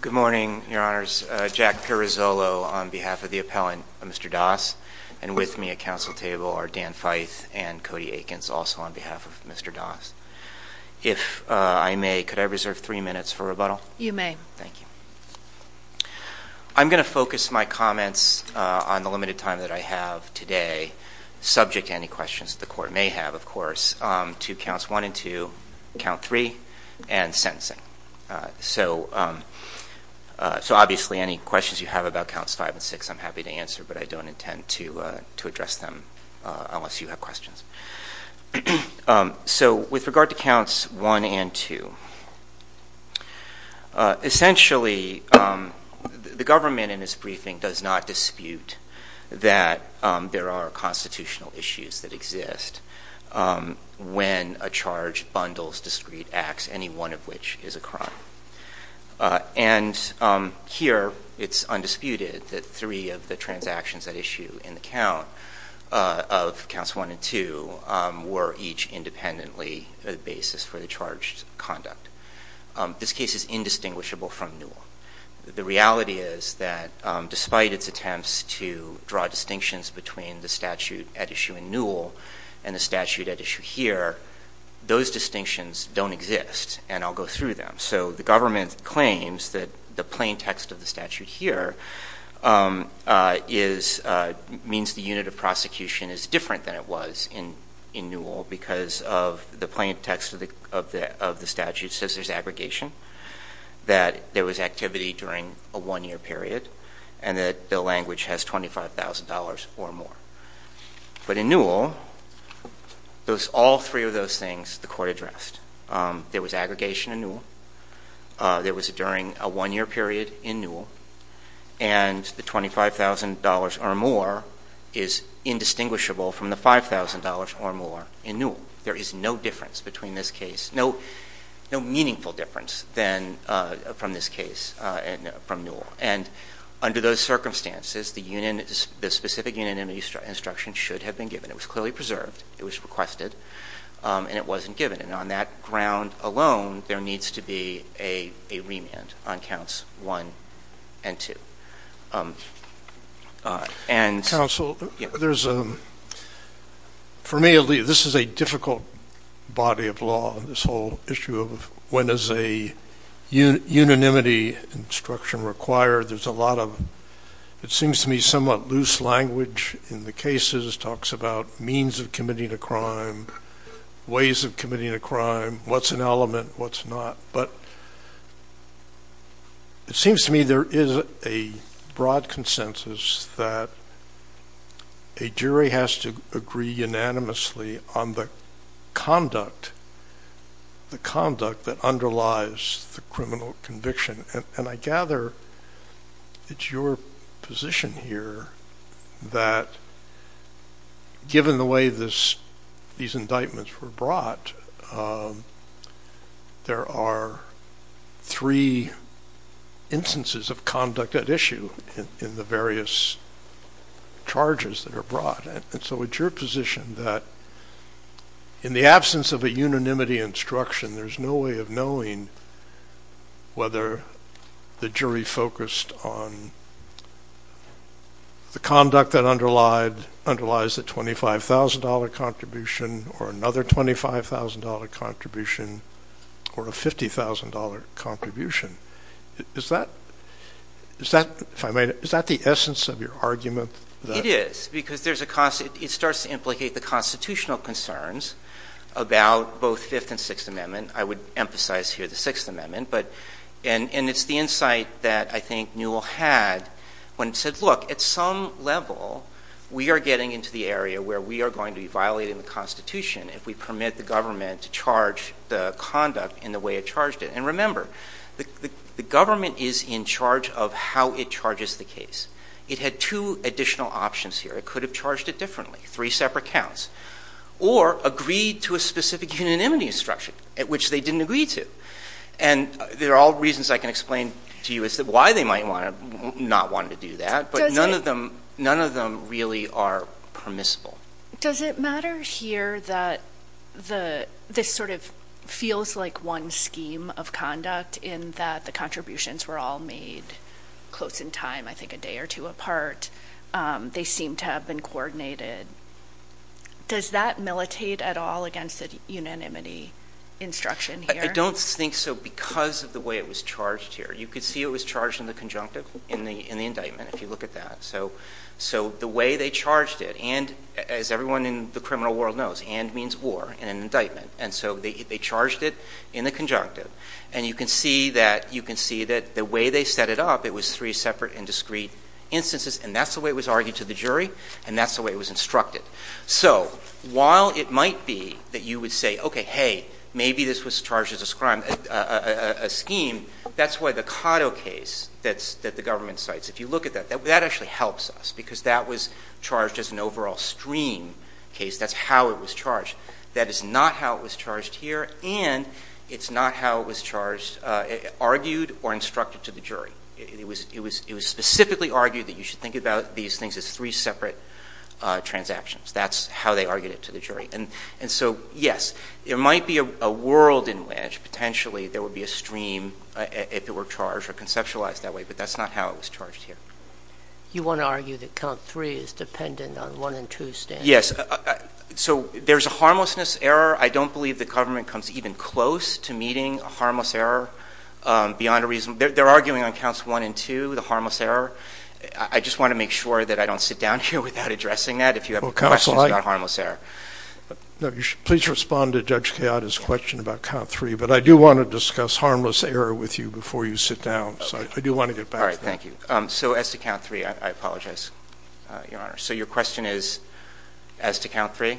Good morning, your honors. Jack Pirizzolo on behalf of the appellant, Mr. Das, and with me at council table are Dan Feith and Cody Aikens, also on behalf of Mr. Das. If I may, could I reserve three minutes for rebuttal? You may. Thank you. I'm going to focus my comments on the limited time that I have today, subject to any questions the court may have, of course, to counts one and two, count three, and sentencing. So obviously any questions you have about counts five and six, I'm happy to answer, but I don't intend to address them unless you have questions. So with regard to counts one and two, essentially the government in this briefing does not dispute that there are constitutional issues that exist when a charge bundles discrete acts, any one of which is a crime. And here it's undisputed that three of the transactions at issue in the count of counts one and two were each independently the basis for the charged conduct. This case is indistinguishable from Newell. The reality is that despite its attempts to draw distinctions between the statute at issue in Newell and the statute at issue here, those distinctions don't exist, and I'll go through them. So the government claims that the plain text of the statute here means the unit of prosecution is different than it was in Newell because of the plain text of the statute says there's aggregation, that there was activity during a one-year period, and that the language has $25,000 or more. But in Newell, all three of those things the court addressed. There was aggregation in Newell. There was a during a one-year period in Newell. And the $25,000 or more is indistinguishable from the $5,000 or more in Newell. There is no difference between this case, no meaningful difference from this case from Newell. And under those circumstances, the specific unanimity instruction should have been given. It was clearly preserved. It was requested, and it wasn't given. And on that ground alone, there needs to be a remand on counts one and two. Counsel, there's a for me, this is a difficult body of law, this whole issue of when is a unanimity instruction required. There's a lot of it seems to me somewhat loose language in the cases, talks about means of committing a crime, ways of committing a crime, what's an element, what's not. But it seems to me there is a broad consensus that a jury has to agree unanimously on the conduct, the conduct that underlies the criminal conviction. And I gather it's your position here that given the way these indictments were brought, there are three instances of conduct at issue in the various charges that are brought. So it's your position that in the absence of a unanimity instruction, there's no way of knowing whether the jury focused on the conduct that underlies the $25,000 contribution or another $25,000 contribution or a $50,000 contribution. Is that the essence of your argument? It is, because it starts to implicate the constitutional concerns about both Fifth and Sixth Amendment. I would emphasize here the Sixth Amendment. And it's the insight that I think Newell had when he said, look, at some level, we are getting into the area where we are going to be violating the Constitution if we permit the government to charge the conduct in the way it charged it. And remember, the government is in charge of how it charges the case. It had two additional options here. It could have charged it differently, three separate counts, or agreed to a specific unanimity instruction, which they didn't agree to. And there are all reasons I can explain to you as to why they might not want to do that. But none of them really are permissible. Does it matter here that this sort of feels like one scheme of conduct in that the contributions were all made close in time, I think a day or two apart? They seem to have been coordinated. Does that militate at all against the unanimity instruction here? I don't think so because of the way it was charged here. You could see it was charged in the conjunctive, in the indictment, if you look at that. So the way they charged it, and as everyone in the criminal world knows, and means war in an indictment. And so they charged it in the conjunctive. And you can see that the way they set it up, it was three separate and discreet instances. And that's the way it was argued to the jury, and that's the way it was instructed. So while it might be that you would say, okay, hey, maybe this was charged as a scheme, that's why the Cotto case that the government cites, if you look at that, that actually helps us because that was charged as an overall stream case. That's how it was charged. That is not how it was charged here, and it's not how it was charged, argued or instructed to the jury. It was specifically argued that you should think about these things as three separate transactions. That's how they argued it to the jury. And so, yes, there might be a world in which, potentially, there would be a stream if it were charged or conceptualized that way, but that's not how it was charged here. You want to argue that count three is dependent on one and two standards? Yes. So there's a harmlessness error. I don't believe the government comes even close to meeting a harmless error beyond a reason. They're arguing on counts one and two, the harmless error. I just want to make sure that I don't sit down here without addressing that if you have questions about harmless error. No, you should please respond to Judge Kayada's question about count three, but I do want to discuss harmless error with you before you sit down. So I do want to get back to you. So as to count three, I apologize, Your Honor. So your question is, as to count three?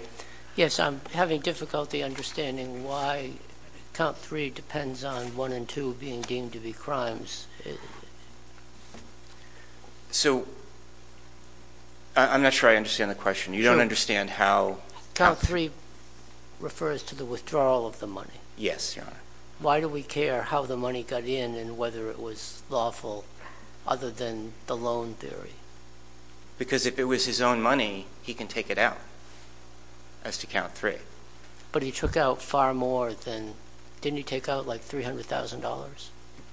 Yes, I'm having difficulty understanding why count three depends on one and two being deemed to be crimes. So I'm not sure I understand the question. You don't understand how... Count three refers to the withdrawal of the money. Yes, Your Honor. Why do we care how the money got in and whether it was lawful other than the loan theory? Because if it was his own money, he can take it out, as to count three. But he took out far more than... Didn't he take out like $300,000?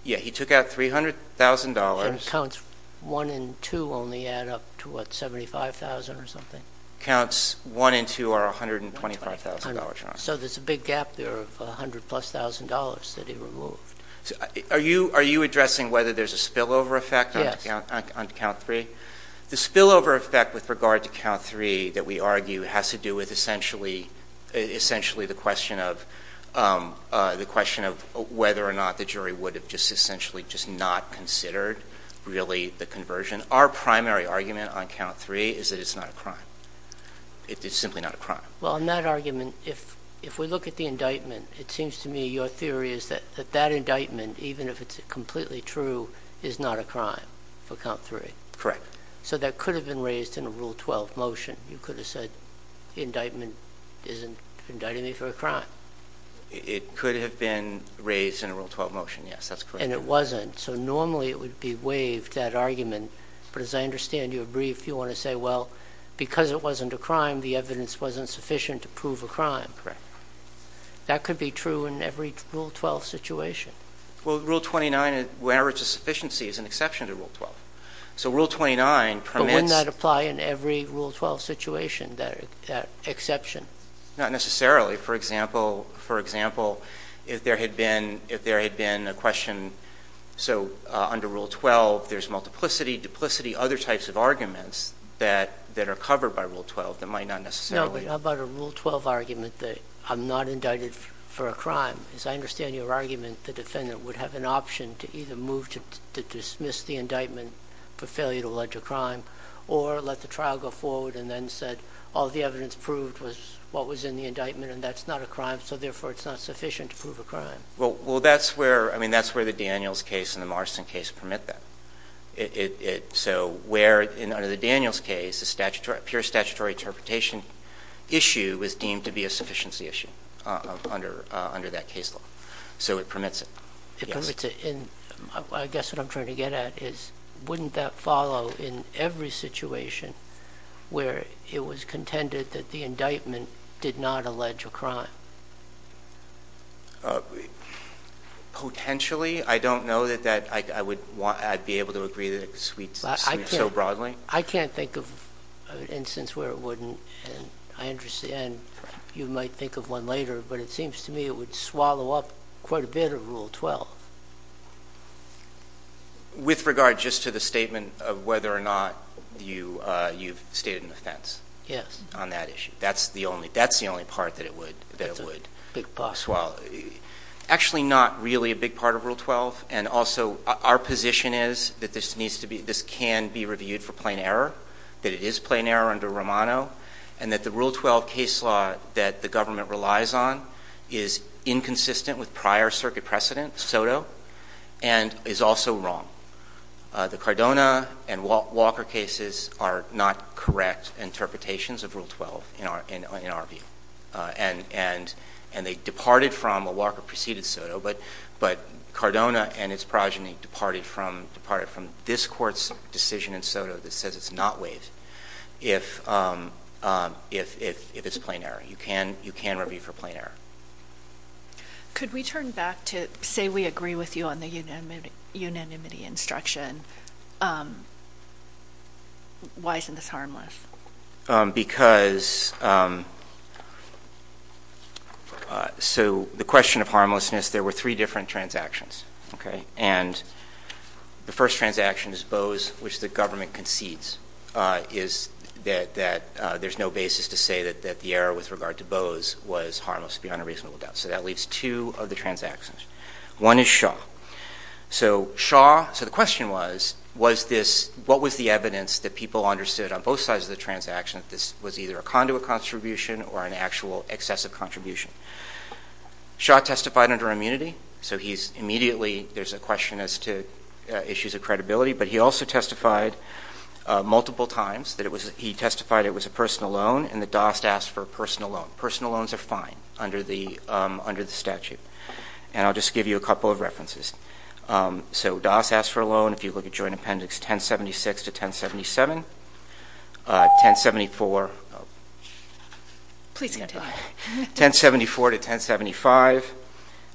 Yes, he took out $300,000. So counts one and two only add up to, what, $75,000 or something? Counts one and two are $125,000, Your Honor. So there's a big gap there of $100,000 plus that he removed. Are you addressing whether there's a spillover effect on count three? The spillover effect with regard to count three that we argue has to do with essentially the question of whether or not the jury would have just essentially just not considered really the conversion. Our primary argument on count three is that it's not a crime. It's simply not a crime. Well, in that argument, if we look at the indictment, it seems to me your theory is that that indictment, even if it's completely true, is not a crime for count three. Correct. So that could have been raised in a Rule 12 motion. You could have said, the indictment isn't indicting me for a crime. It could have been raised in a Rule 12 motion, yes. That's correct. And it wasn't. So normally it would be waived, that argument. But as I understand you, Mr. Briefe, you want to say, well, because it wasn't a crime, the evidence wasn't sufficient to prove a crime. Correct. That could be true in every Rule 12 situation. Well, Rule 29, where it's a sufficiency, is an exception to Rule 12. So Rule 29 permits But wouldn't that apply in every Rule 12 situation, that exception? Not necessarily. For example, if there had been a question, so under Rule 12, there's multiplicity, duplicity, other types of arguments that are covered by Rule 12 that might not necessarily be. No, but how about a Rule 12 argument that I'm not indicted for a crime? As I understand your argument, the defendant would have an option to either move to dismiss the indictment for failure to allege a crime, or let the trial go forward and then said, all the evidence proved was what was in the indictment and that's not a crime, so therefore it's not sufficient to prove a crime. Well, that's where the Daniels case and the Morrison case permit that. So where, under the Daniels case, the pure statutory interpretation issue was deemed to be a sufficiency issue under that case law. So it permits it. It permits it. And I guess what I'm trying to get at is, wouldn't that follow in every situation where it was contended that the indictment did not allege a crime? Potentially. I don't know that I'd be able to agree that it would sweep so broadly. I can't think of an instance where it wouldn't, and you might think of one later, but it seems to me it would swallow up quite a bit of Rule 12. With regard just to the statement of whether or not you've stated an offense on that issue. That's the only part that it would. Actually not really a big part of Rule 12, and also our position is that this can be reviewed for plain error, that it is plain error under Romano, and that the Rule 12 case law that the government relies on is inconsistent with prior circuit precedent, SOTO, and is also wrong. The Cardona and Walker cases are not correct interpretations of Rule 12 in our view, and they departed from a Walker preceded SOTO, but Cardona and its progeny departed from this Court's decision in SOTO that says it's not waived if it's plain error. You can review for plain error. Could we turn back to, say we agree with you on the unanimity instruction, why isn't this a case? The question of harmlessness, there were three different transactions. The first transaction is Bose, which the government concedes is that there's no basis to say that the error with regard to Bose was harmless beyond a reasonable doubt. That leaves two of the transactions. One is Shaw. The question was, what was the evidence that people understood on both sides of the transaction that this was either a conduit contribution or an actual excessive contribution? Shaw testified under immunity, so he's immediately, there's a question as to issues of credibility, but he also testified multiple times that he testified it was a personal loan and that Dost asked for a personal loan. Personal loans are fine under the statute, and I'll just give you a couple of references. So Dost asked for a loan, if you look at Joint Appendix 1076 to 1077, 1074 to 1075,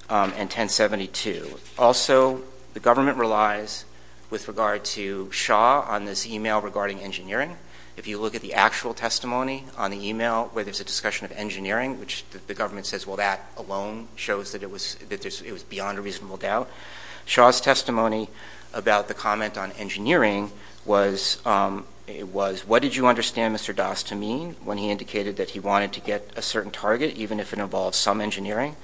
and 1072. Also, the government relies with regard to Shaw on this email regarding engineering. If you look at the actual testimony on the email where there's a discussion of engineering, which the government says, well, that alone shows that it was beyond a reasonable doubt. Shaw's testimony about the comment on engineering was, what did you understand Mr. Dost to mean when he indicated that he wanted to get a certain target, even if it involved some engineering?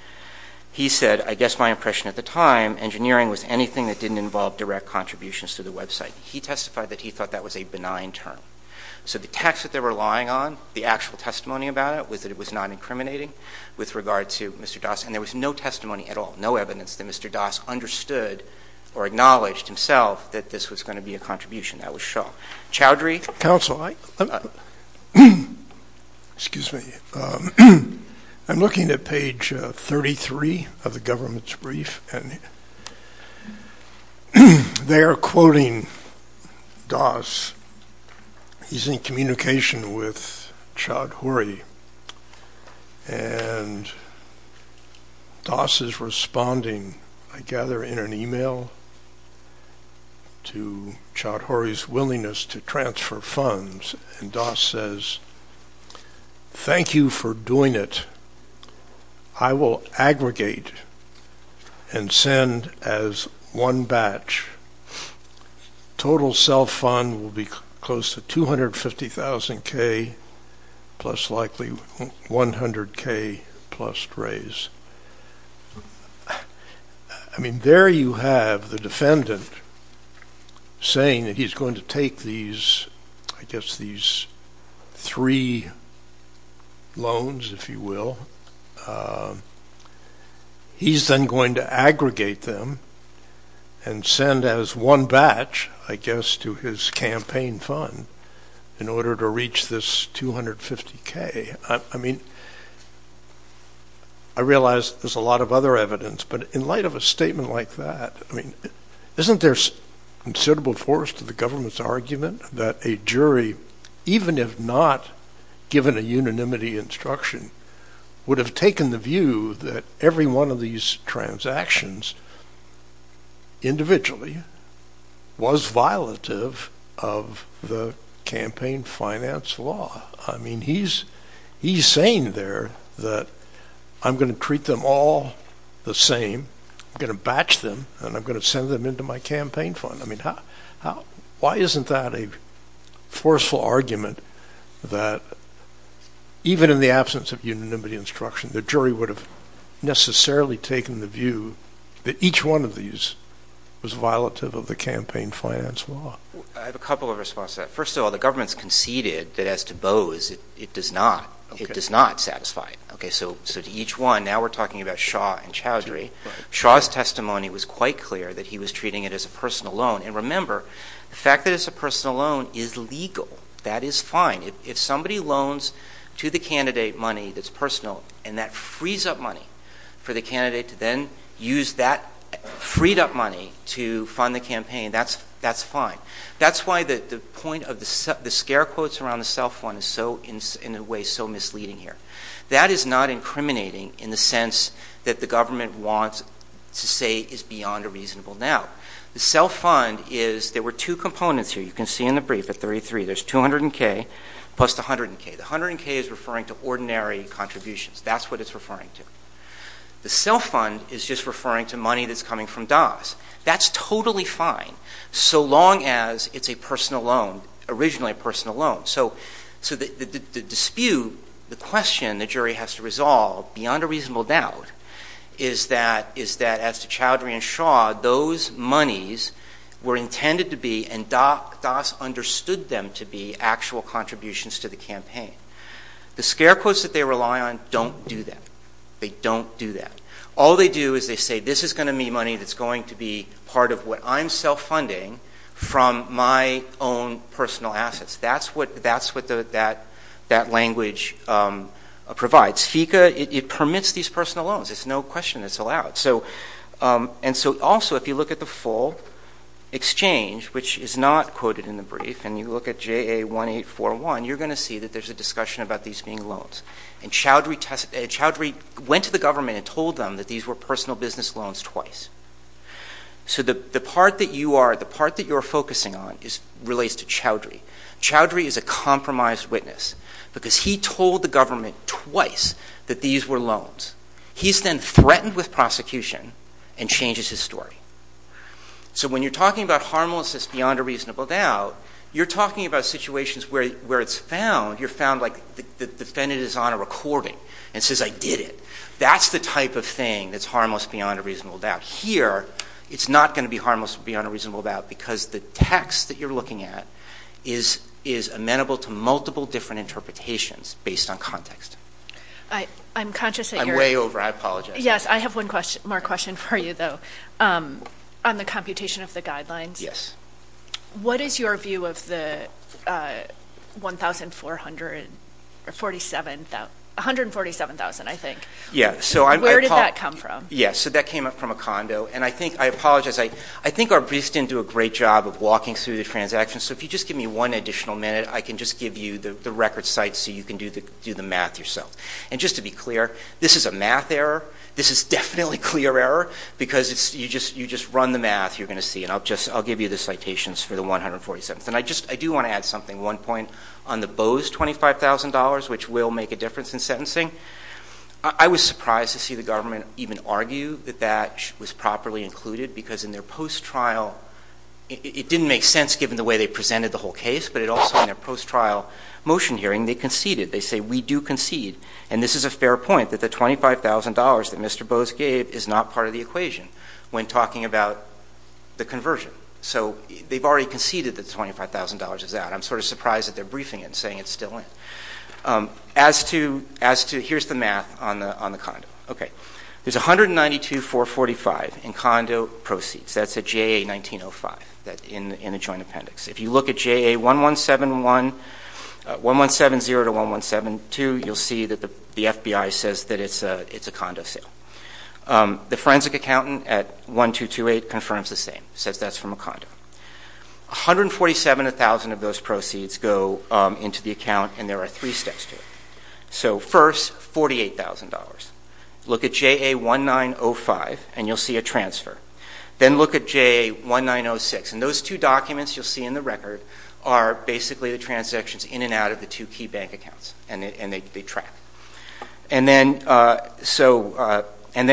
He said, I guess my impression at the time, engineering was anything that didn't involve direct contributions to the website. He testified that he thought that was a benign term. So the text that they were relying on, the actual testimony about it, was that it was non-incriminating with regard to Mr. Dost, and there was no testimony at all, no evidence that Mr. Dost understood or acknowledged himself that this was going to be a contribution. That was Shaw. Chowdhury? Counsel, I'm looking at page 33 of the government's brief, and they are quoting Dost. He's in communication with Chowdhury, and Dost is responding, I gather, in an email to Chowdhury's willingness to transfer funds, and Dost says, thank you for doing it. I will aggregate and send as one batch. Total cell fund will be close to $250,000K plus likely $100K plus raise. I mean, there you have the defendant saying that he's going to take these, I guess, these three loans, if you will. He's then going to aggregate them and send as one batch, I guess, to his campaign fund in order to reach this $250K. I mean, I realize there's a lot of other evidence, but in light of a statement like that, isn't there considerable force to the government's argument that a jury, even if not given a unanimity instruction, would have taken the view that every one of these transactions individually was violative of the campaign finance law? I mean, he's saying there that I'm going to treat them all the same. I'm going to batch them, and I'm going to send them into my campaign fund. I mean, why isn't that a forceful argument that even in the absence of unanimity instruction, the jury would have necessarily taken the view that each one of these was violative of the campaign finance law? I have a couple of responses to that. First of all, the government's conceded that as to Bose, it does not. It does not satisfy it. Okay, so to each one, now we're talking about Shaw and Chowdhury. Shaw's testimony was quite clear that he was treating it as a personal loan. And remember, the fact that it's a personal loan is legal. That is fine. If somebody loans to the candidate money that's personal, and that frees up money for the candidate to then use that freed up money to fund the campaign, that's fine. That's why the point of the scare quotes around the cell phone is in a way so misleading here. That is not incriminating in the sense that the government wants to say is beyond a reasonable doubt. The cell fund is, there were two components here. You can see in the brief at 33, there's 200 and K plus 100 and K. The 100 and K is referring to ordinary contributions. That's what it's referring to. The cell fund is just referring to money that's coming from DAS. That's totally fine so long as it's a personal loan, originally a personal loan. So the dispute, the question the jury has to resolve beyond a reasonable doubt is that as to Chowdhury and Shaw, those monies were intended to be and DAS understood them to be actual contributions to the campaign. The scare quotes that they rely on don't do that. They don't do that. All they do is they say this is going to be money that's going to be part of what I'm self-funding from my own personal assets. That's what that language provides. FECA, it permits these personal loans. There's no question it's allowed. And so also if you look at the full exchange, which is not quoted in the brief, and you look at JA1841, you're going to see that there's a discussion about these being loans. And Chowdhury went to the government and told them that these were personal business loans twice. So the part that you are focusing on relates to Chowdhury. Chowdhury is a compromised witness because he told the government twice that these were loans. He's then threatened with prosecution and changes his story. So when you're talking about harmlessness beyond a reasonable doubt, you're talking about situations where it's found, you're found like the defendant is on a recording and says I did it. That's the type of thing that's harmless beyond a reasonable doubt. Here, it's not going to be harmless beyond a reasonable doubt because the text that you're looking at is amenable to multiple different interpretations based on context. I'm conscious that you're... I'm way over. I apologize. Yes. I have one more question for you, though, on the computation of the guidelines. Yes. What is your view of the 147,000, I think? Yes. Where did that come from? Yes. So that came up from a condo. And I think, I apologize, I think our briefs didn't do a great job of walking through the transactions. So if you just give me one additional minute, I can just give you the record site so you can do the math yourself. And just to be clear, this is a math error. This is definitely clear error because you just run the math, you're going to see. And I'll give you the citations for the 147. And I do want to add something, one point, on the Bose $25,000, which will make a difference in sentencing. I was surprised to see the government even argue that that was properly included because in their post-trial, it didn't make sense given the way they presented the whole case, but it also, in their post-trial motion hearing, they conceded. They say, we do concede. And this is a fair point that the $25,000 that Mr. Bose gave is not part of the equation when talking about the conversion. So they've already conceded that $25,000 is out. I'm sort of surprised that they're briefing it and saying it's still in. Here's the math on the condo. Okay. There's $192,445 in condo proceeds. That's a JA-1905 in the joint appendix. If you look at JA-1171, 1170 to 1172, you'll see that the FBI says that it's a condo sale. The forensic accountant at 1228 confirms the same, says that's from a condo. 147,000 of those proceeds go into the account, and there are three steps to it. So first, $48,000. Look at JA-1905, and you'll see a transfer. Then look at JA-1906, and those two documents you'll see in the record are basically the transactions in and out of the two key bank accounts, and they track. And then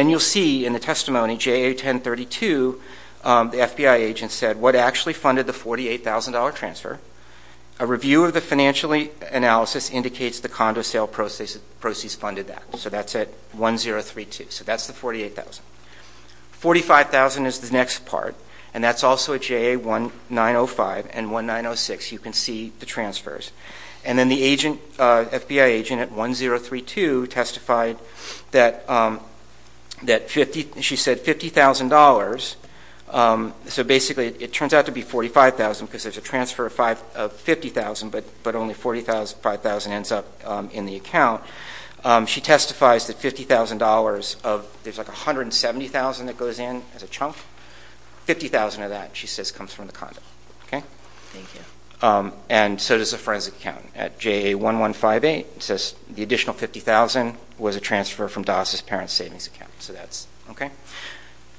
you'll see in the testimony, JA-1032, the FBI agent said what actually funded the $48,000 transfer. A review of the financial analysis indicates the condo sale proceeds funded that. So that's at 1032. So that's the $48,000. $45,000 is the next part, and that's also at JA-1905 and JA-1906. You can see the transfers. And then the FBI agent at 1032 testified that she said $50,000. So basically it turns out to be $45,000 because there's a transfer of $50,000, but only $45,000 ends up in the account. She testifies that $50,000 of, there's like $170,000 that goes in as a transfer, and so does the forensic account. At JA-1158, it says the additional $50,000 was a transfer from DAS's parents' savings account. So that's, okay.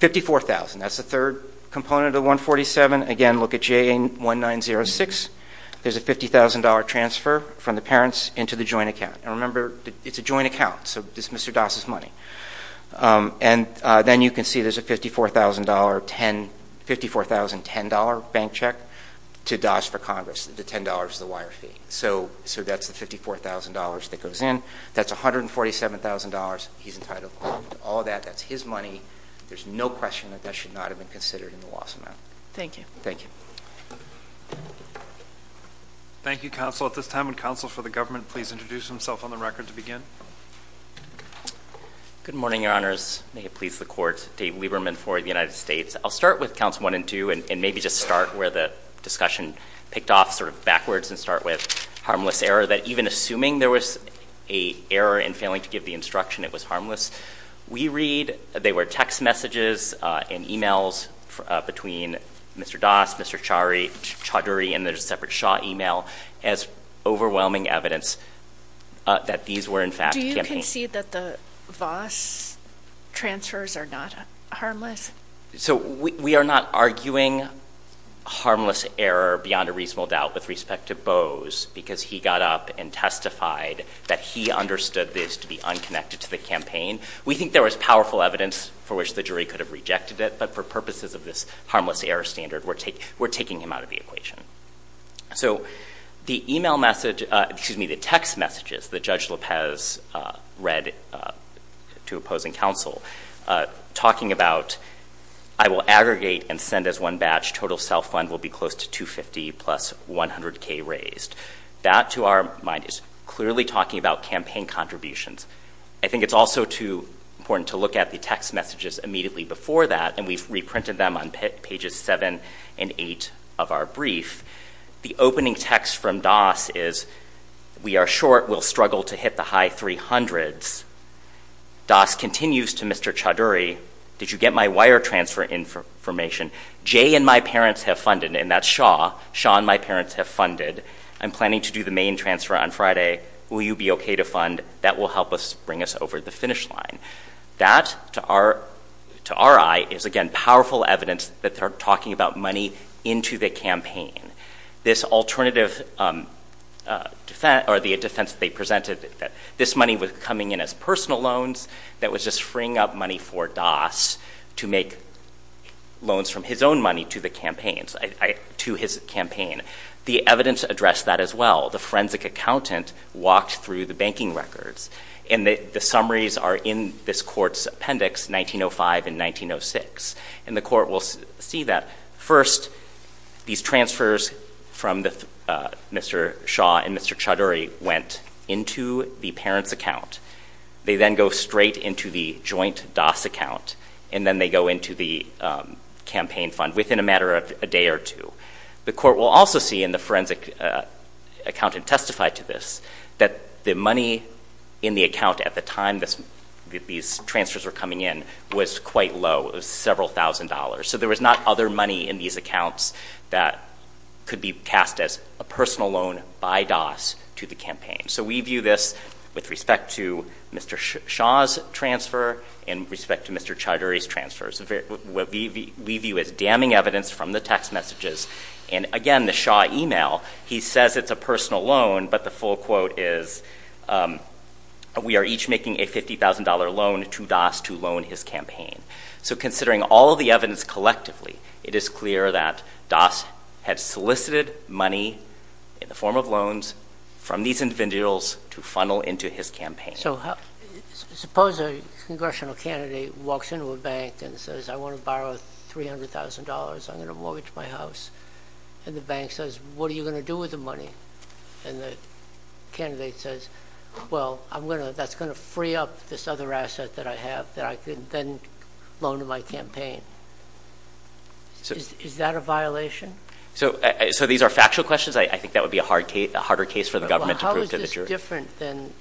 $54,000, that's the third component of 147. Again, look at JA-1906. There's a $50,000 transfer from the parents into the joint account. And remember, it's a joint account, so it's Mr. DAS's money. And then you can see there's a $54,010 bank check to DAS for Congress. The $10 is the wire fee. So that's the $54,000 that goes in. That's $147,000 he's entitled to. All that, that's his money. There's no question that that should not have been considered in the loss amount. Thank you. Thank you, Counsel. At this time, would Counsel for the Government please introduce himself on the record to begin? Good morning, Your Honors. May it please the Court. Dave Lieberman for the United States. I'll start with Counts 1 and 2, and maybe just start where the discussion picked off sort of backwards and start with harmless error. That even assuming there was an error in failing to give the instruction, it was harmless. We read, they were text messages and emails between Mr. DAS, Mr. Chaudhuri, and there's a fact campaign. Do you concede that the Voss transfers are not harmless? So we are not arguing harmless error beyond a reasonable doubt with respect to Bose because he got up and testified that he understood this to be unconnected to the campaign. We think there was powerful evidence for which the jury could have rejected it, but for purposes of this harmless error standard, we're taking him out of the equation. So the email message, excuse me, the text messages that Judge Lopez read to opposing counsel talking about I will aggregate and send as one batch. Total self-fund will be close to 250 plus 100K raised. That to our mind is clearly talking about campaign contributions. I think it's also important to look at the text messages immediately before that, and we've reprinted them on pages 7 and 8 of our brief. The opening text from DAS is we are short. We'll struggle to hit the high 300s. DAS continues to Mr. Chaudhuri, did you get my wire transfer information? Jay and my parents have funded, and that's Shaw. Shaw and my parents have funded. I'm planning to do the main transfer on Friday. Will you be okay to fund? That will help us bring us over the finish line. That to our eye is again powerful evidence that they're talking about money into the campaign. This alternative defense or the defense they presented that this money was coming in as personal loans that was just freeing up money for DAS to make loans from his own money to the campaigns, to his campaign. The evidence addressed that as well. The forensic accountant walked through the banking records and the summaries are in this court's appendix 1905 and 1906. And the court will see that first these transfers from Mr. Shaw and Mr. Chaudhuri went into the parents account. They then go straight into the joint DAS account, and then they go into the campaign fund within a matter of a day or two. The court will also see and the forensic accountant testified to this, that the money in the account at the time these transfers were coming in was quite low. It was several thousand dollars. So there was not other money in these accounts that could be cast as a personal loan by DAS to the campaign. So we view this with respect to Mr. Shaw's transfer and respect to Mr. Chaudhuri's transfers. We view it as damning evidence from the text messages. And again, the Shaw email, he says it's a personal loan, but the full quote is we are each making a $50,000 loan to DAS to loan his campaign. So considering all of the evidence collectively, it is clear that DAS had solicited money in the form of loans from these individuals to funnel into his campaign. So suppose a congressional candidate walks into a bank and says I want to borrow $300,000. I'm going to mortgage my house. And the bank says what are you going to do with the money? And the candidate says, well that's going to free up this other asset that I have that I can then loan to my campaign. Is that a violation? So these are factual questions. I think that would be a harder case for the government to prove to the jury. How is this different than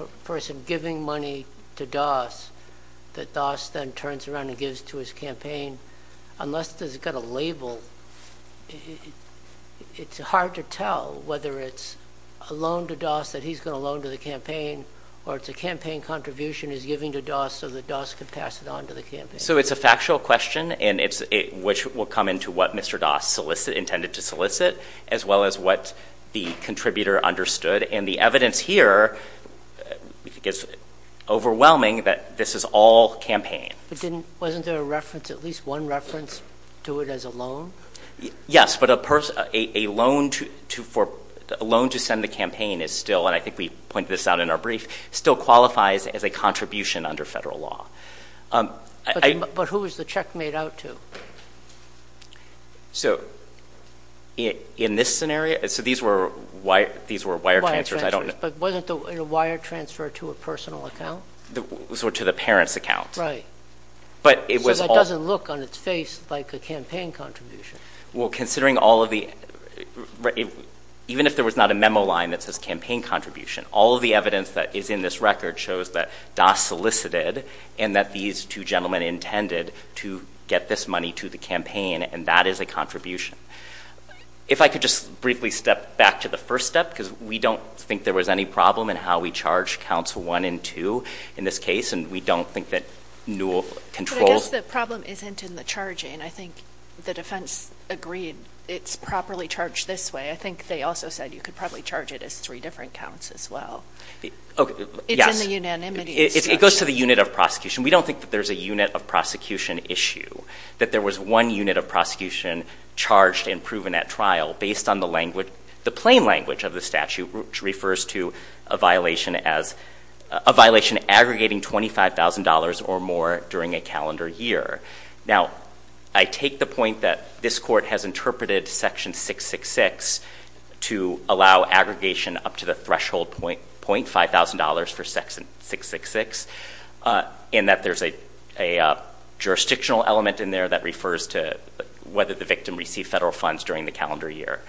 a person giving money to DAS that DAS then turns around and gives to his campaign? Unless it's got a label, it's hard to tell whether it's a loan to DAS that he's going to loan to the campaign or it's a campaign contribution he's giving to DAS so that DAS can pass it on to the campaign. So it's a factual question, which will come into what Mr. DAS intended to solicit as well as what the contributor understood. And the evidence here is overwhelming that this is all campaign. But wasn't there a reference, at least one reference to it as a loan? Yes, but a loan to send the campaign is still, and I think we pointed this out in our brief, still qualifies as a contribution under federal law. But who was the check made out to? So in this scenario, so these were wire transfers. But wasn't the wire transfer to a personal account? To the parent's account. Right. So that doesn't look on its face like a campaign contribution. Well, considering all of the, even if there was not a memo line that says campaign contribution, all of the evidence that is in this record shows that DAS solicited and that these two gentlemen intended to get this money to the campaign and that is a contribution. If I could just briefly step back to the first step, because we don't think there was any problem in how we charge counts one and two in this case. And we don't think that Newell controls. But I guess the problem isn't in the charging. I think the defense agreed it's properly charged this way. I think they also said you could probably charge it as three different counts as well. It's in the unanimity. It goes to the unit of prosecution. We don't think that there's a unit of prosecution issue. That there was one unit of prosecution charged and proven at trial based on the plain language of the statute, which refers to a violation aggregating $25,000 or more during a calendar year. Now, I take the point that this court has interpreted section 666 to allow aggregation up to the threshold .5 thousand dollars for section 666 in that there's a jurisdictional element in there that refers to whether the victim received federal funds during the calendar year.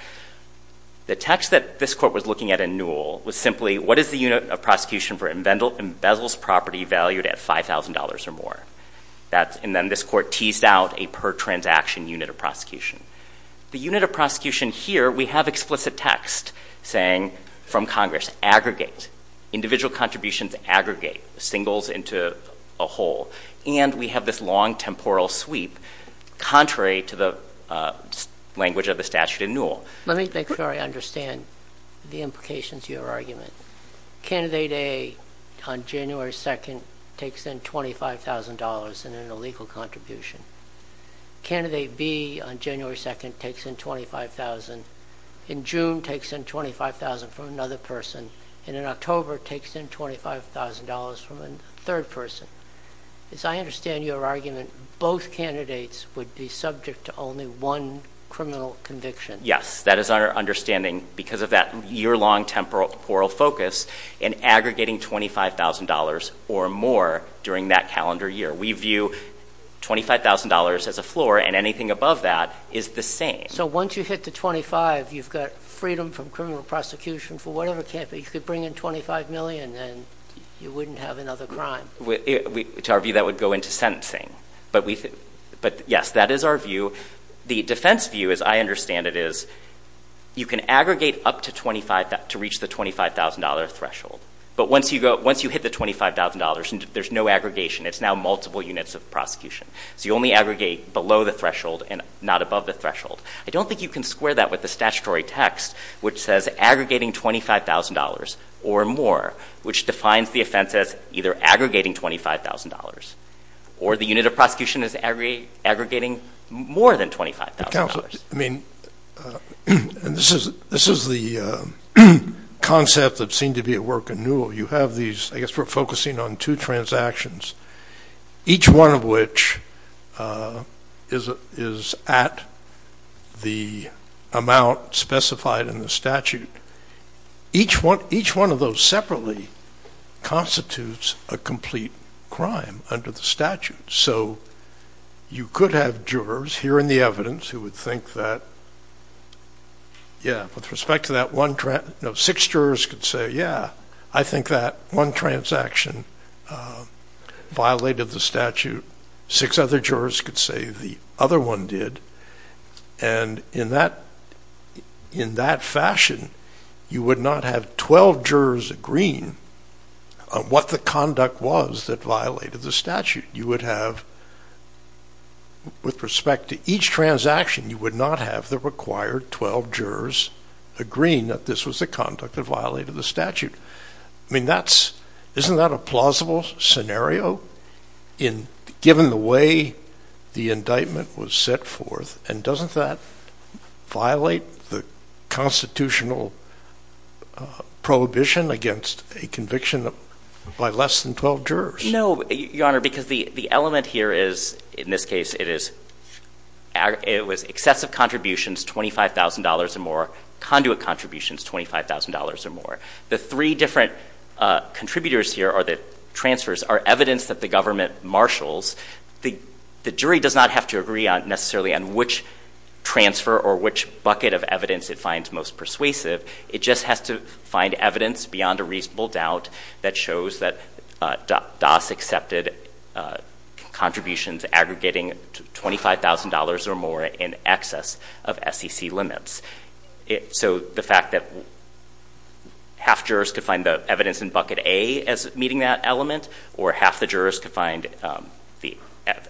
The text that this court was looking at in Newell was simply what is the unit of prosecution for embezzled property valued at $5,000 or more. And then this court teased out a per transaction unit of prosecution. The unit of prosecution here, we have explicit text saying from Congress, aggregate. Individual contributions aggregate. Singles into a whole. And we have this long temporal sweep contrary to the language of the statute in Newell. Let me make sure I understand the implications of your argument. Candidate A on January 2nd takes in $25,000 in an illegal contribution. Candidate B on January 2nd takes in $25,000. In June takes in $25,000 from another person. And in October takes in $25,000 from a third person. As I understand your argument, both candidates would be subject to only one criminal conviction. Yes. That is our understanding because of that year-long temporal focus in aggregating $25,000 or more during that calendar year. We view $25,000 as a floor and anything above that is the same. So once you hit the $25,000, you've got freedom from criminal prosecution for whatever. You could bring in $25 million and you wouldn't have another crime. To our view, that would go into sentencing. But yes, that is our view. The defense view, as I understand it, is you can aggregate up to $25,000 to reach the $25,000 threshold. But once you hit the $25,000 and there's no aggregation, it's now multiple units of prosecution. So you only aggregate below the threshold and not above the threshold. I don't think you can square that with the statutory text, which says aggregating $25,000 or more, which defines the offense as either aggregating $25,000 or the unit of prosecution as aggregating more than $25,000. Counselor, I mean, and this is the concept that seemed to be at work in Newell. You have these, I guess we're focusing on two transactions. Each one of which is at the amount specified in the statute. Each one of those separately constitutes a complete crime under the statute. So you could have jurors hearing the evidence who would think that, yeah, with respect to that one, no, six jurors could say, yeah, I think that one transaction violated the statute. Six other jurors could say the other one did. And in that fashion, you would not have 12 jurors agreeing on what the conduct was that violated the statute. You would have, with respect to each transaction, you would not have the required 12 jurors agreeing that this was the conduct that violated the statute. I mean, isn't that a plausible scenario given the way the indictment was set forth? And doesn't that violate the constitutional prohibition against a conviction by less than 12 jurors? No, Your Honor, because the element here is, in this case, it was excessive contributions, $25,000 or more. Conduit contributions, $25,000 or more. The three different contributors here, or the transfers, are evidence that the government transfer, or which bucket of evidence it finds most persuasive, it just has to find evidence beyond a reasonable doubt that shows that DAS accepted contributions aggregating $25,000 or more in excess of SEC limits. So the fact that half jurors could find the evidence in bucket A meeting that element, or half the jurors could find the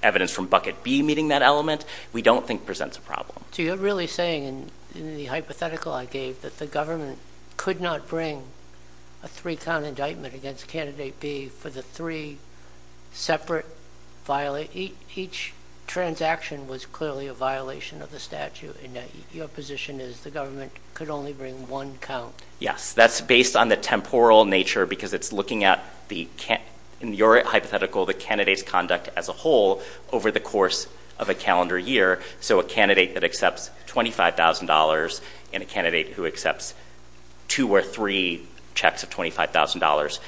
evidence from bucket B meeting that element, we don't think presents a problem. So you're really saying, in the hypothetical I gave, that the government could not bring a three-count indictment against candidate B for the three separate violations. Each transaction was clearly a violation of the statute and your position is the government could only bring one count? Yes, that's based on the temporal nature because it's looking at, in your hypothetical, the candidate's conduct as a whole over the course of a calendar year. So a candidate that accepts $25,000 and a candidate who accepts two or three checks of $25,000,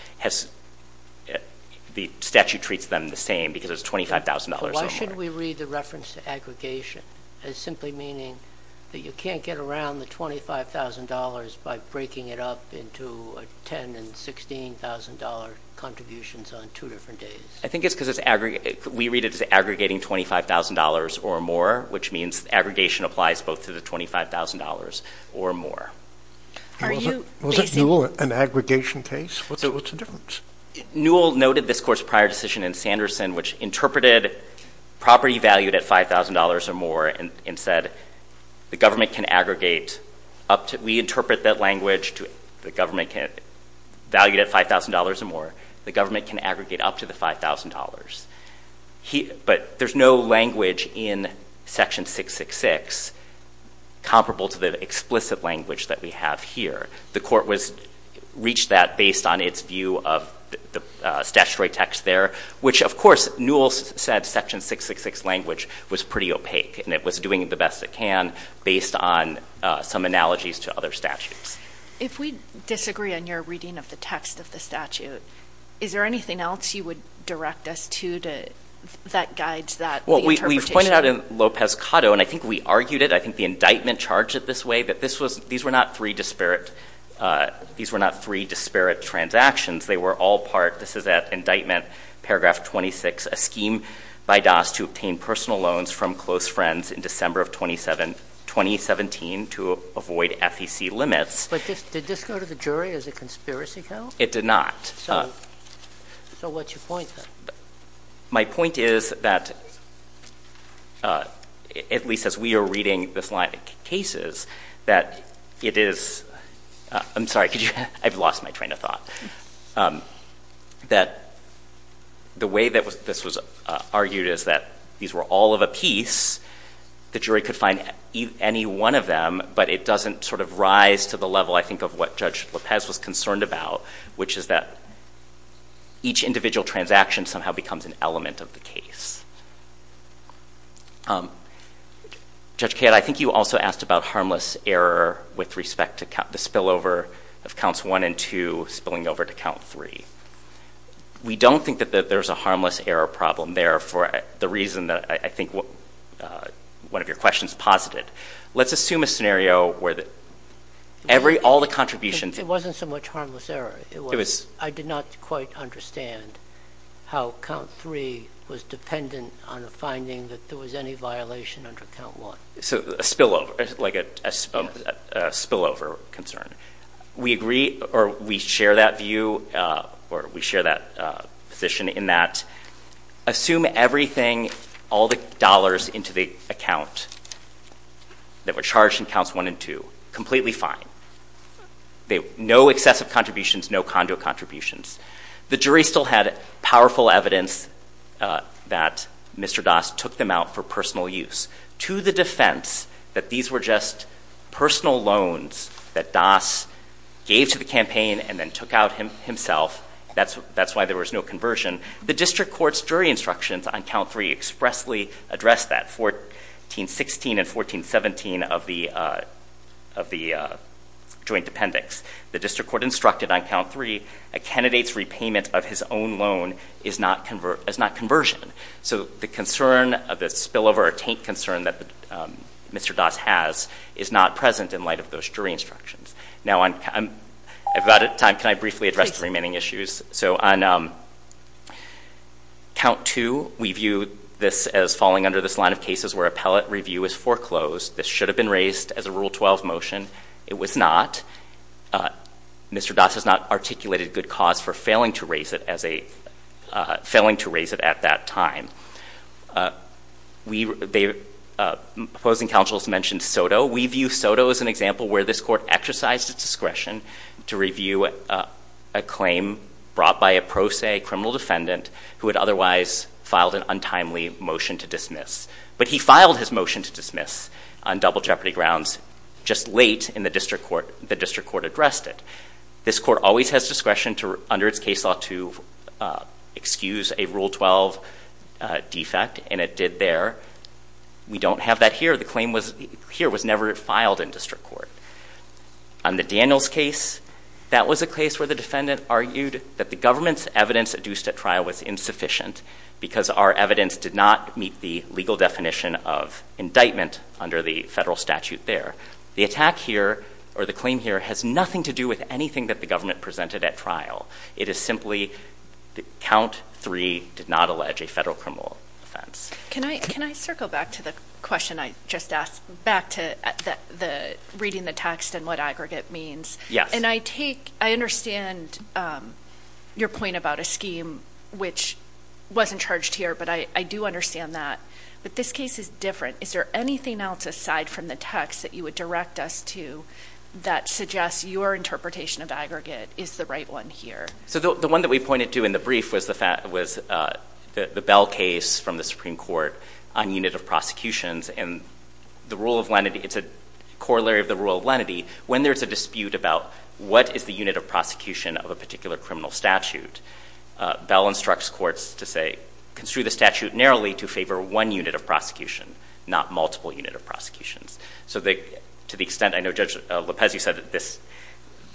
the statute treats them the same because it's $25,000 or more. Why shouldn't we read the reference to aggregation as simply meaning that you can't get around the $25,000 by breaking it up into $10,000 and $16,000 contributions on two different days? I think it's because we read it as aggregating $25,000 or more, which means aggregation applies both to the $25,000 or more. Was it Newell an aggregation case? What's the difference? Newell noted this court's prior decision in Sanderson which interpreted property valued at $5,000 or more and said the government can aggregate up to, we interpret that language to the government valued at $5,000 or more, the government can aggregate up to the $5,000. But there's no language in Section 666 comparable to the explicit language that we have here. The court reached that based on its view of the statutory text there, which, of course, Newell said Section 666 language was pretty opaque and it was doing the best it can based on some analogies to other statutes. If we disagree on your reading of the text of the statute, is there anything else you would direct us to that guides that interpretation? Well, we pointed out in Lopez-Cotto, and I think we argued it, I think the indictment charged it this way, that these were not three disparate transactions. They were all part, this is at indictment, paragraph 26, a scheme by DAS to obtain personal loans from close friends in December of 2017 to avoid FEC limits. But did this go to the jury as a conspiracy count? It did not. So what's your point then? My point is that, at least as we are reading this line of cases, that it is, I'm sorry, I've lost my train of thought, that the way that this was argued is that these were all of a piece. The jury could find any one of them, but it doesn't sort of rise to the level, I think, of what Judge Lopez was concerned about, which is that each individual transaction somehow becomes an element of the case. Judge Kadd, I think you also asked about harmless error with respect to the spillover of counts 1 and 2 spilling over to count 3. We don't think that there's a harmless error problem there for the reason that I think one of your questions was posited. Let's assume a scenario where all the contributions... It wasn't so much harmless error. I did not quite understand how count 3 was dependent on a finding that there was any violation under count 1. So a spillover, like a spillover concern. We agree, or we share that view, or we share that position in that Assume everything, all the dollars into the account that were charged in counts 1 and 2. Completely fine. No excessive contributions, no conduit contributions. The jury still had powerful evidence that Mr. Das took them out for personal use. To the defense that these were just personal loans that Das gave to the district court's jury instructions on count 3 expressly addressed that. 1416 and 1417 of the joint appendix. The district court instructed on count 3 a candidate's repayment of his own loan is not conversion. So the concern of the spillover or taint concern that Mr. Das has is not present in light of those jury instructions. Now I'm about out of time. Can I briefly address the remaining issues? So on count 2, we view this as falling under this line of cases where appellate review is foreclosed. This should have been raised as a Rule 12 motion. It was not. Mr. Das has not articulated good cause for failing to raise it at that time. Opposing counsel has mentioned Soto. We view Soto as an example where this court exercised its discretion to review a claim brought by a pro se criminal defendant who had otherwise filed an untimely motion to dismiss. But he filed his motion to dismiss on double jeopardy grounds just late in the district court. The district court addressed it. This court always has discretion under its case law to excuse a Rule 12 defect and it did there. We don't have that here. The claim here was never filed in district court. On the Daniels case, that was a case where the defendant argued that the government's evidence adduced at trial was insufficient because our evidence did not meet the legal definition of indictment under the federal statute there. The attack here, or the claim here, has nothing to do with anything that the government presented at trial. It is simply that count three did not allege a federal criminal offense. Can I circle back to the question I just asked, back to reading the text and what aggregate means? Yes. And I take, I understand your point about a scheme which wasn't charged here, but I do understand that. But this case is different. Is there anything else aside from the text that you would direct us to that suggests your interpretation of aggregate is the right one here? So the one that we pointed to in the brief was the Bell case from the Supreme Court on unit of prosecutions and the rule of lenity. It's a corollary of the rule of lenity. When there's a dispute about what is the unit of prosecution of a particular criminal statute, Bell instructs courts to say, construe the statute narrowly to favor one unit of prosecution, not multiple unit of prosecutions. So to the extent I know Judge Lopez, you said that this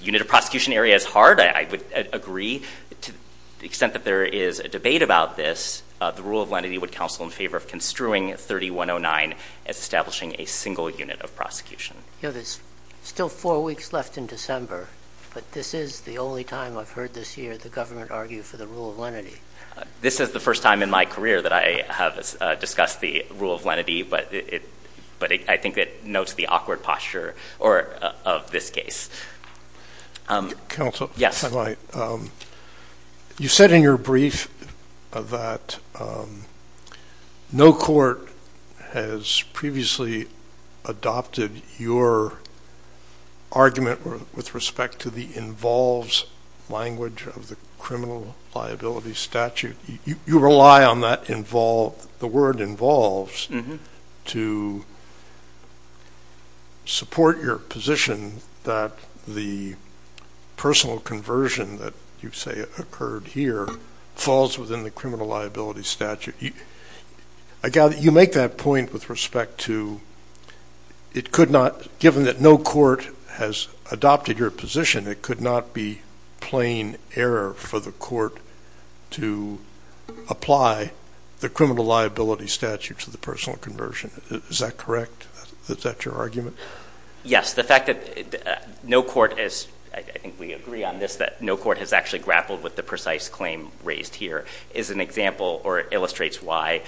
unit of prosecution area is hard. I would agree to the extent that there is a debate about this, the rule of lenity would counsel in favor of construing 3109 as establishing a single unit of prosecution. You know, there's still four weeks left in December, but this is the only time I've heard this year, the government argued for the rule of lenity. This is the first time in my career that I have discussed the rule of lenity, but it, but I think that notes the awkward posture or of this case. Counsel. Yes. You said in your brief that no court has previously adopted your argument with respect to the involves language of the criminal liability statute. You rely on that involve, the word involves to support your position that the personal conversion that you say occurred here falls within the criminal liability statute. Again, you make that point with respect to it could not, given that no court has adopted your position, it could not be plain error for the court to apply the criminal liability statute to the personal conversion. Is that correct? Is that your understanding is that no court has actually grappled with the precise claim raised here is an example or illustrates why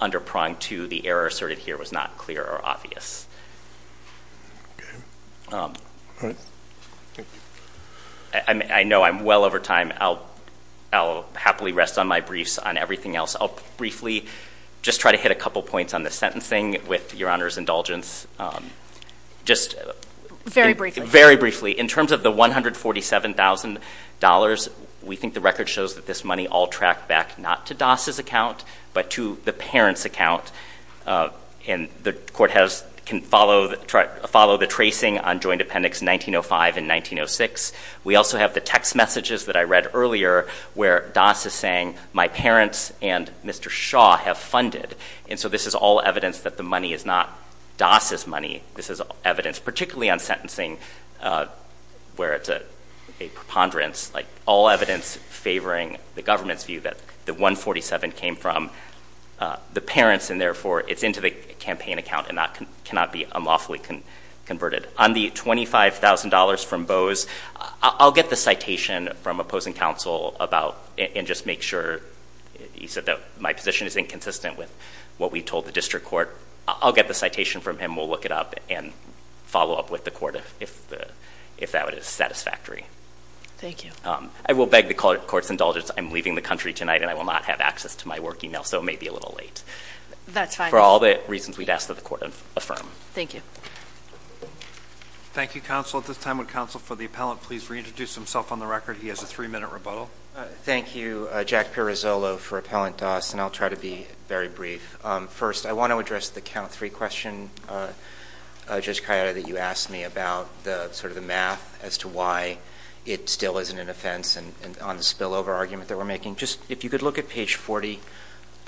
under prong to the error asserted here was not clear or obvious. Okay. I know I'm well over time. I'll happily rest on my briefs on everything else. I'll briefly just try to hit a couple points on the sentencing with your honor's indulgence. Very briefly. In terms of the $147,000, we think the record shows that this money all tracked back not to Doss's account, but to the parent's account. The court can follow the tracing on joint appendix 1905 and 1906. We also have the text messages that I read earlier where Doss is saying my parents and Mr. Shaw have funded. This is all evidence that the money is not Doss's money. This is evidence, particularly on sentencing where it's a preponderance, all evidence favoring the government's view that the $147,000 came from the parents and therefore it's into the campaign account and cannot be unlawfully converted. On the $25,000 from Bose, I'll get the citation from opposing counsel and just make sure he said that my position is inconsistent with what we told the district court. I'll get the citation from him. We'll look it up and follow up with the court if that is satisfactory. I will beg the court's indulgence. I'm leaving the country tonight and I will not have access to my work email, so it may be a little late. For all the reasons we'd ask that the court affirm. Thank you. Thank you, counsel. At this time, would counsel for the appellant please reintroduce himself on the record? He has a three minute rebuttal. Thank you, Jack Pirozzolo, for Appellant Doss. I'll try to be very brief. First, I want to address the count three question, Judge Ciotta, that you asked me about the math as to why it still isn't an offense on the spillover argument that we're making. If you could look at page 40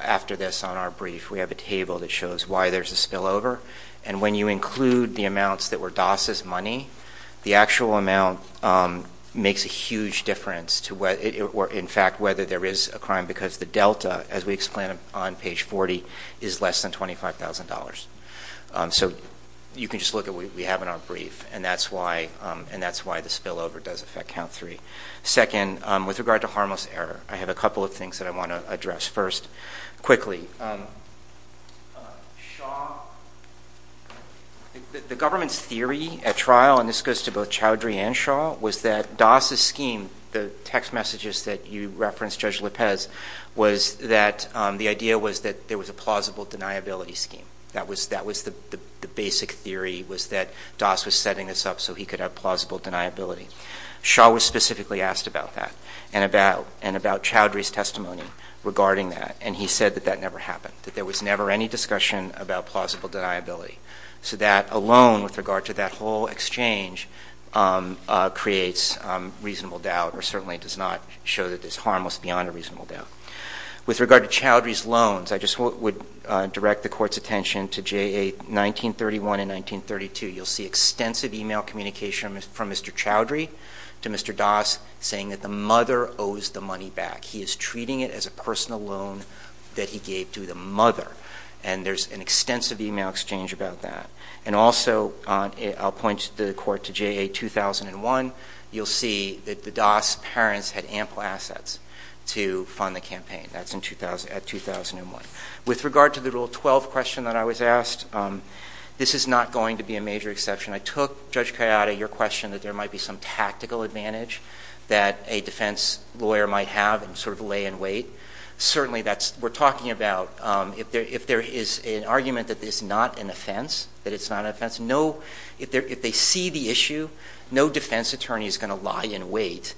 after this on our brief, we have a table that shows why there's a spillover. And when you include the amounts that were Doss's money, the actual amount makes a huge difference in fact whether there is a crime because the delta, as we explained on page 40, is less than $25,000. So you can just look at what we have in our brief and that's why the spillover does affect count three. Second, with regard to harmless error, I have a couple of things that I want to address. First, quickly, Shaw, the government's theory at trial, and this goes to both Chowdhury and Shaw, was that Doss's scheme, the text messages that you referenced, Judge Lopez, was that the idea was that there was a plausible deniability scheme. That was the basic theory was that Doss was setting this up so he could have plausible deniability. Shaw was specifically asked about that and about Chowdhury's testimony regarding that, and he said that that never happened, that there was never any discussion about plausible deniability. So that alone with regard to that whole exchange creates reasonable doubt or certainly does not show that it's harmless beyond a reasonable doubt. With regard to Chowdhury's loans, I just would direct the Court's attention to J.A. 1931 and 1932. You'll see extensive email communication from Mr. Chowdhury to Mr. Doss saying that the mother owes the money back. He is treating it as a personal loan that he gave to the mother, and there's an extensive email exchange about that. And also I'll point the Court to J.A. 2001. You'll see that the Doss parents had ample assets to fund the campaign. That's at 2001. With regard to the Rule 12 question that I was asked, this is not going to be a major exception. I took, Judge Kayade, your question that there might be some tactical advantage that a defense lawyer might have and sort of lay in wait. Certainly we're talking about if there is an argument that it's not an offense, that it's not an offense, if they see the issue, no defense attorney is going to lie in wait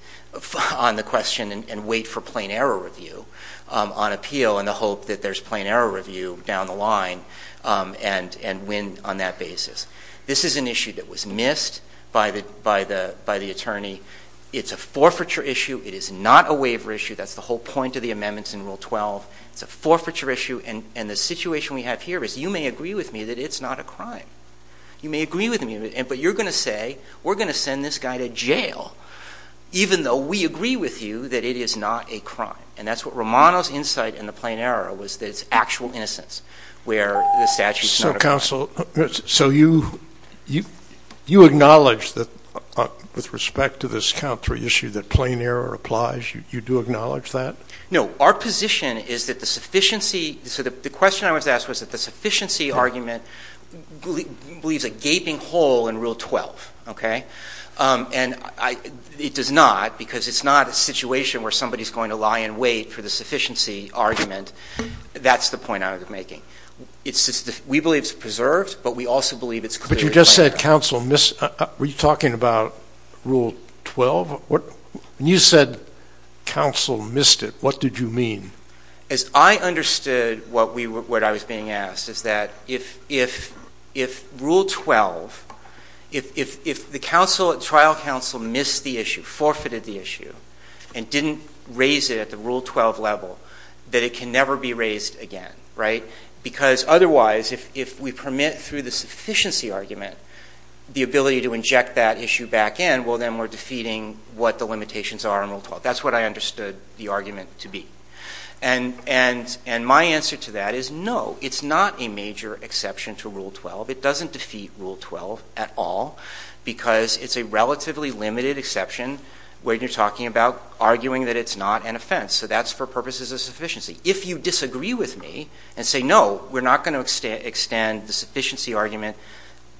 on the question and wait for plain error review on appeal in the hope that there's plain error review down the line and win on that basis. This is an issue that was missed by the attorney. It's a forfeiture issue. It is not a waiver issue. That's the whole point of the amendments in Rule 12. It's a forfeiture issue. And the situation we have here is you may agree with me that it's not a crime. You may agree with me, but you're going to say we're going to send this guy to jail even though we agree with you that it is not a crime. And that's what Romano's insight in the plain error was that it's actual innocence where the statute is not a crime. So you acknowledge that with respect to this count three issue that plain error is not a crime. Do you acknowledge that? No. Our position is that the sufficiency, so the question I was asked was that the sufficiency argument believes a gaping hole in Rule 12. And it does not because it's not a situation where somebody's going to lie in wait for the sufficiency argument. That's the point I was making. We believe it's preserved, but we also believe it's clear. But you just said counsel missed. Were you talking about Rule 12? When you said counsel missed it, what did you mean? As I understood what I was being asked is that if Rule 12, if the trial counsel missed the issue, forfeited the issue, and didn't raise it at the Rule 12 level, that it can never be raised again, right? Because otherwise, if we permit through the sufficiency argument the ability to inject that issue back in, well, then we're defeating what the limitations are in Rule 12. That's what I understood the argument to be. And my answer to that is no, it's not a major exception to Rule 12. It doesn't defeat Rule 12 at all because it's a relatively limited exception when you're talking about arguing that it's not an offense. So that's for purposes of sufficiency. If you disagree with me and say no, we're not going to extend the sufficiency argument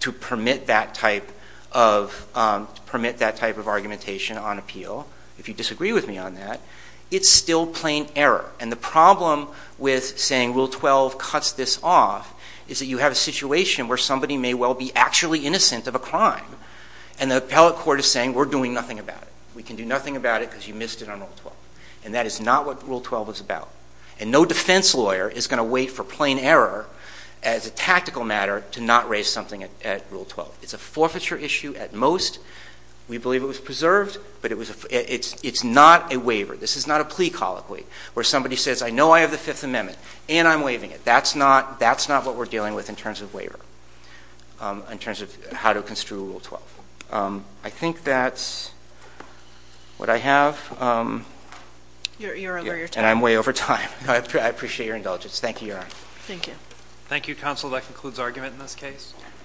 to permit that type of argumentation on appeal, if you disagree with me on that, it's still plain error. And the problem with saying Rule 12 cuts this off is that you have a situation where somebody may well be actually innocent of a crime, and the appellate court is saying, we're doing nothing about it. We can do nothing about it because you missed it on Rule 12. And that is not what Rule 12 is about. And no defense lawyer is going to wait for plain error as a tactical matter to not raise something at Rule 12. It's a forfeiture issue at most. We believe it was preserved, but it's not a waiver. This is not a plea colloquy where somebody says, I know I have the Fifth Amendment, and I'm waiving it. That's not what we're dealing with in terms of waiver, in terms of how to construe Rule 12. I think that's what I have. You're over your time. And I'm way over time. I appreciate your indulgence. Thank you, Your Honor. Thank you. Thank you, Counsel. That concludes argument in this case.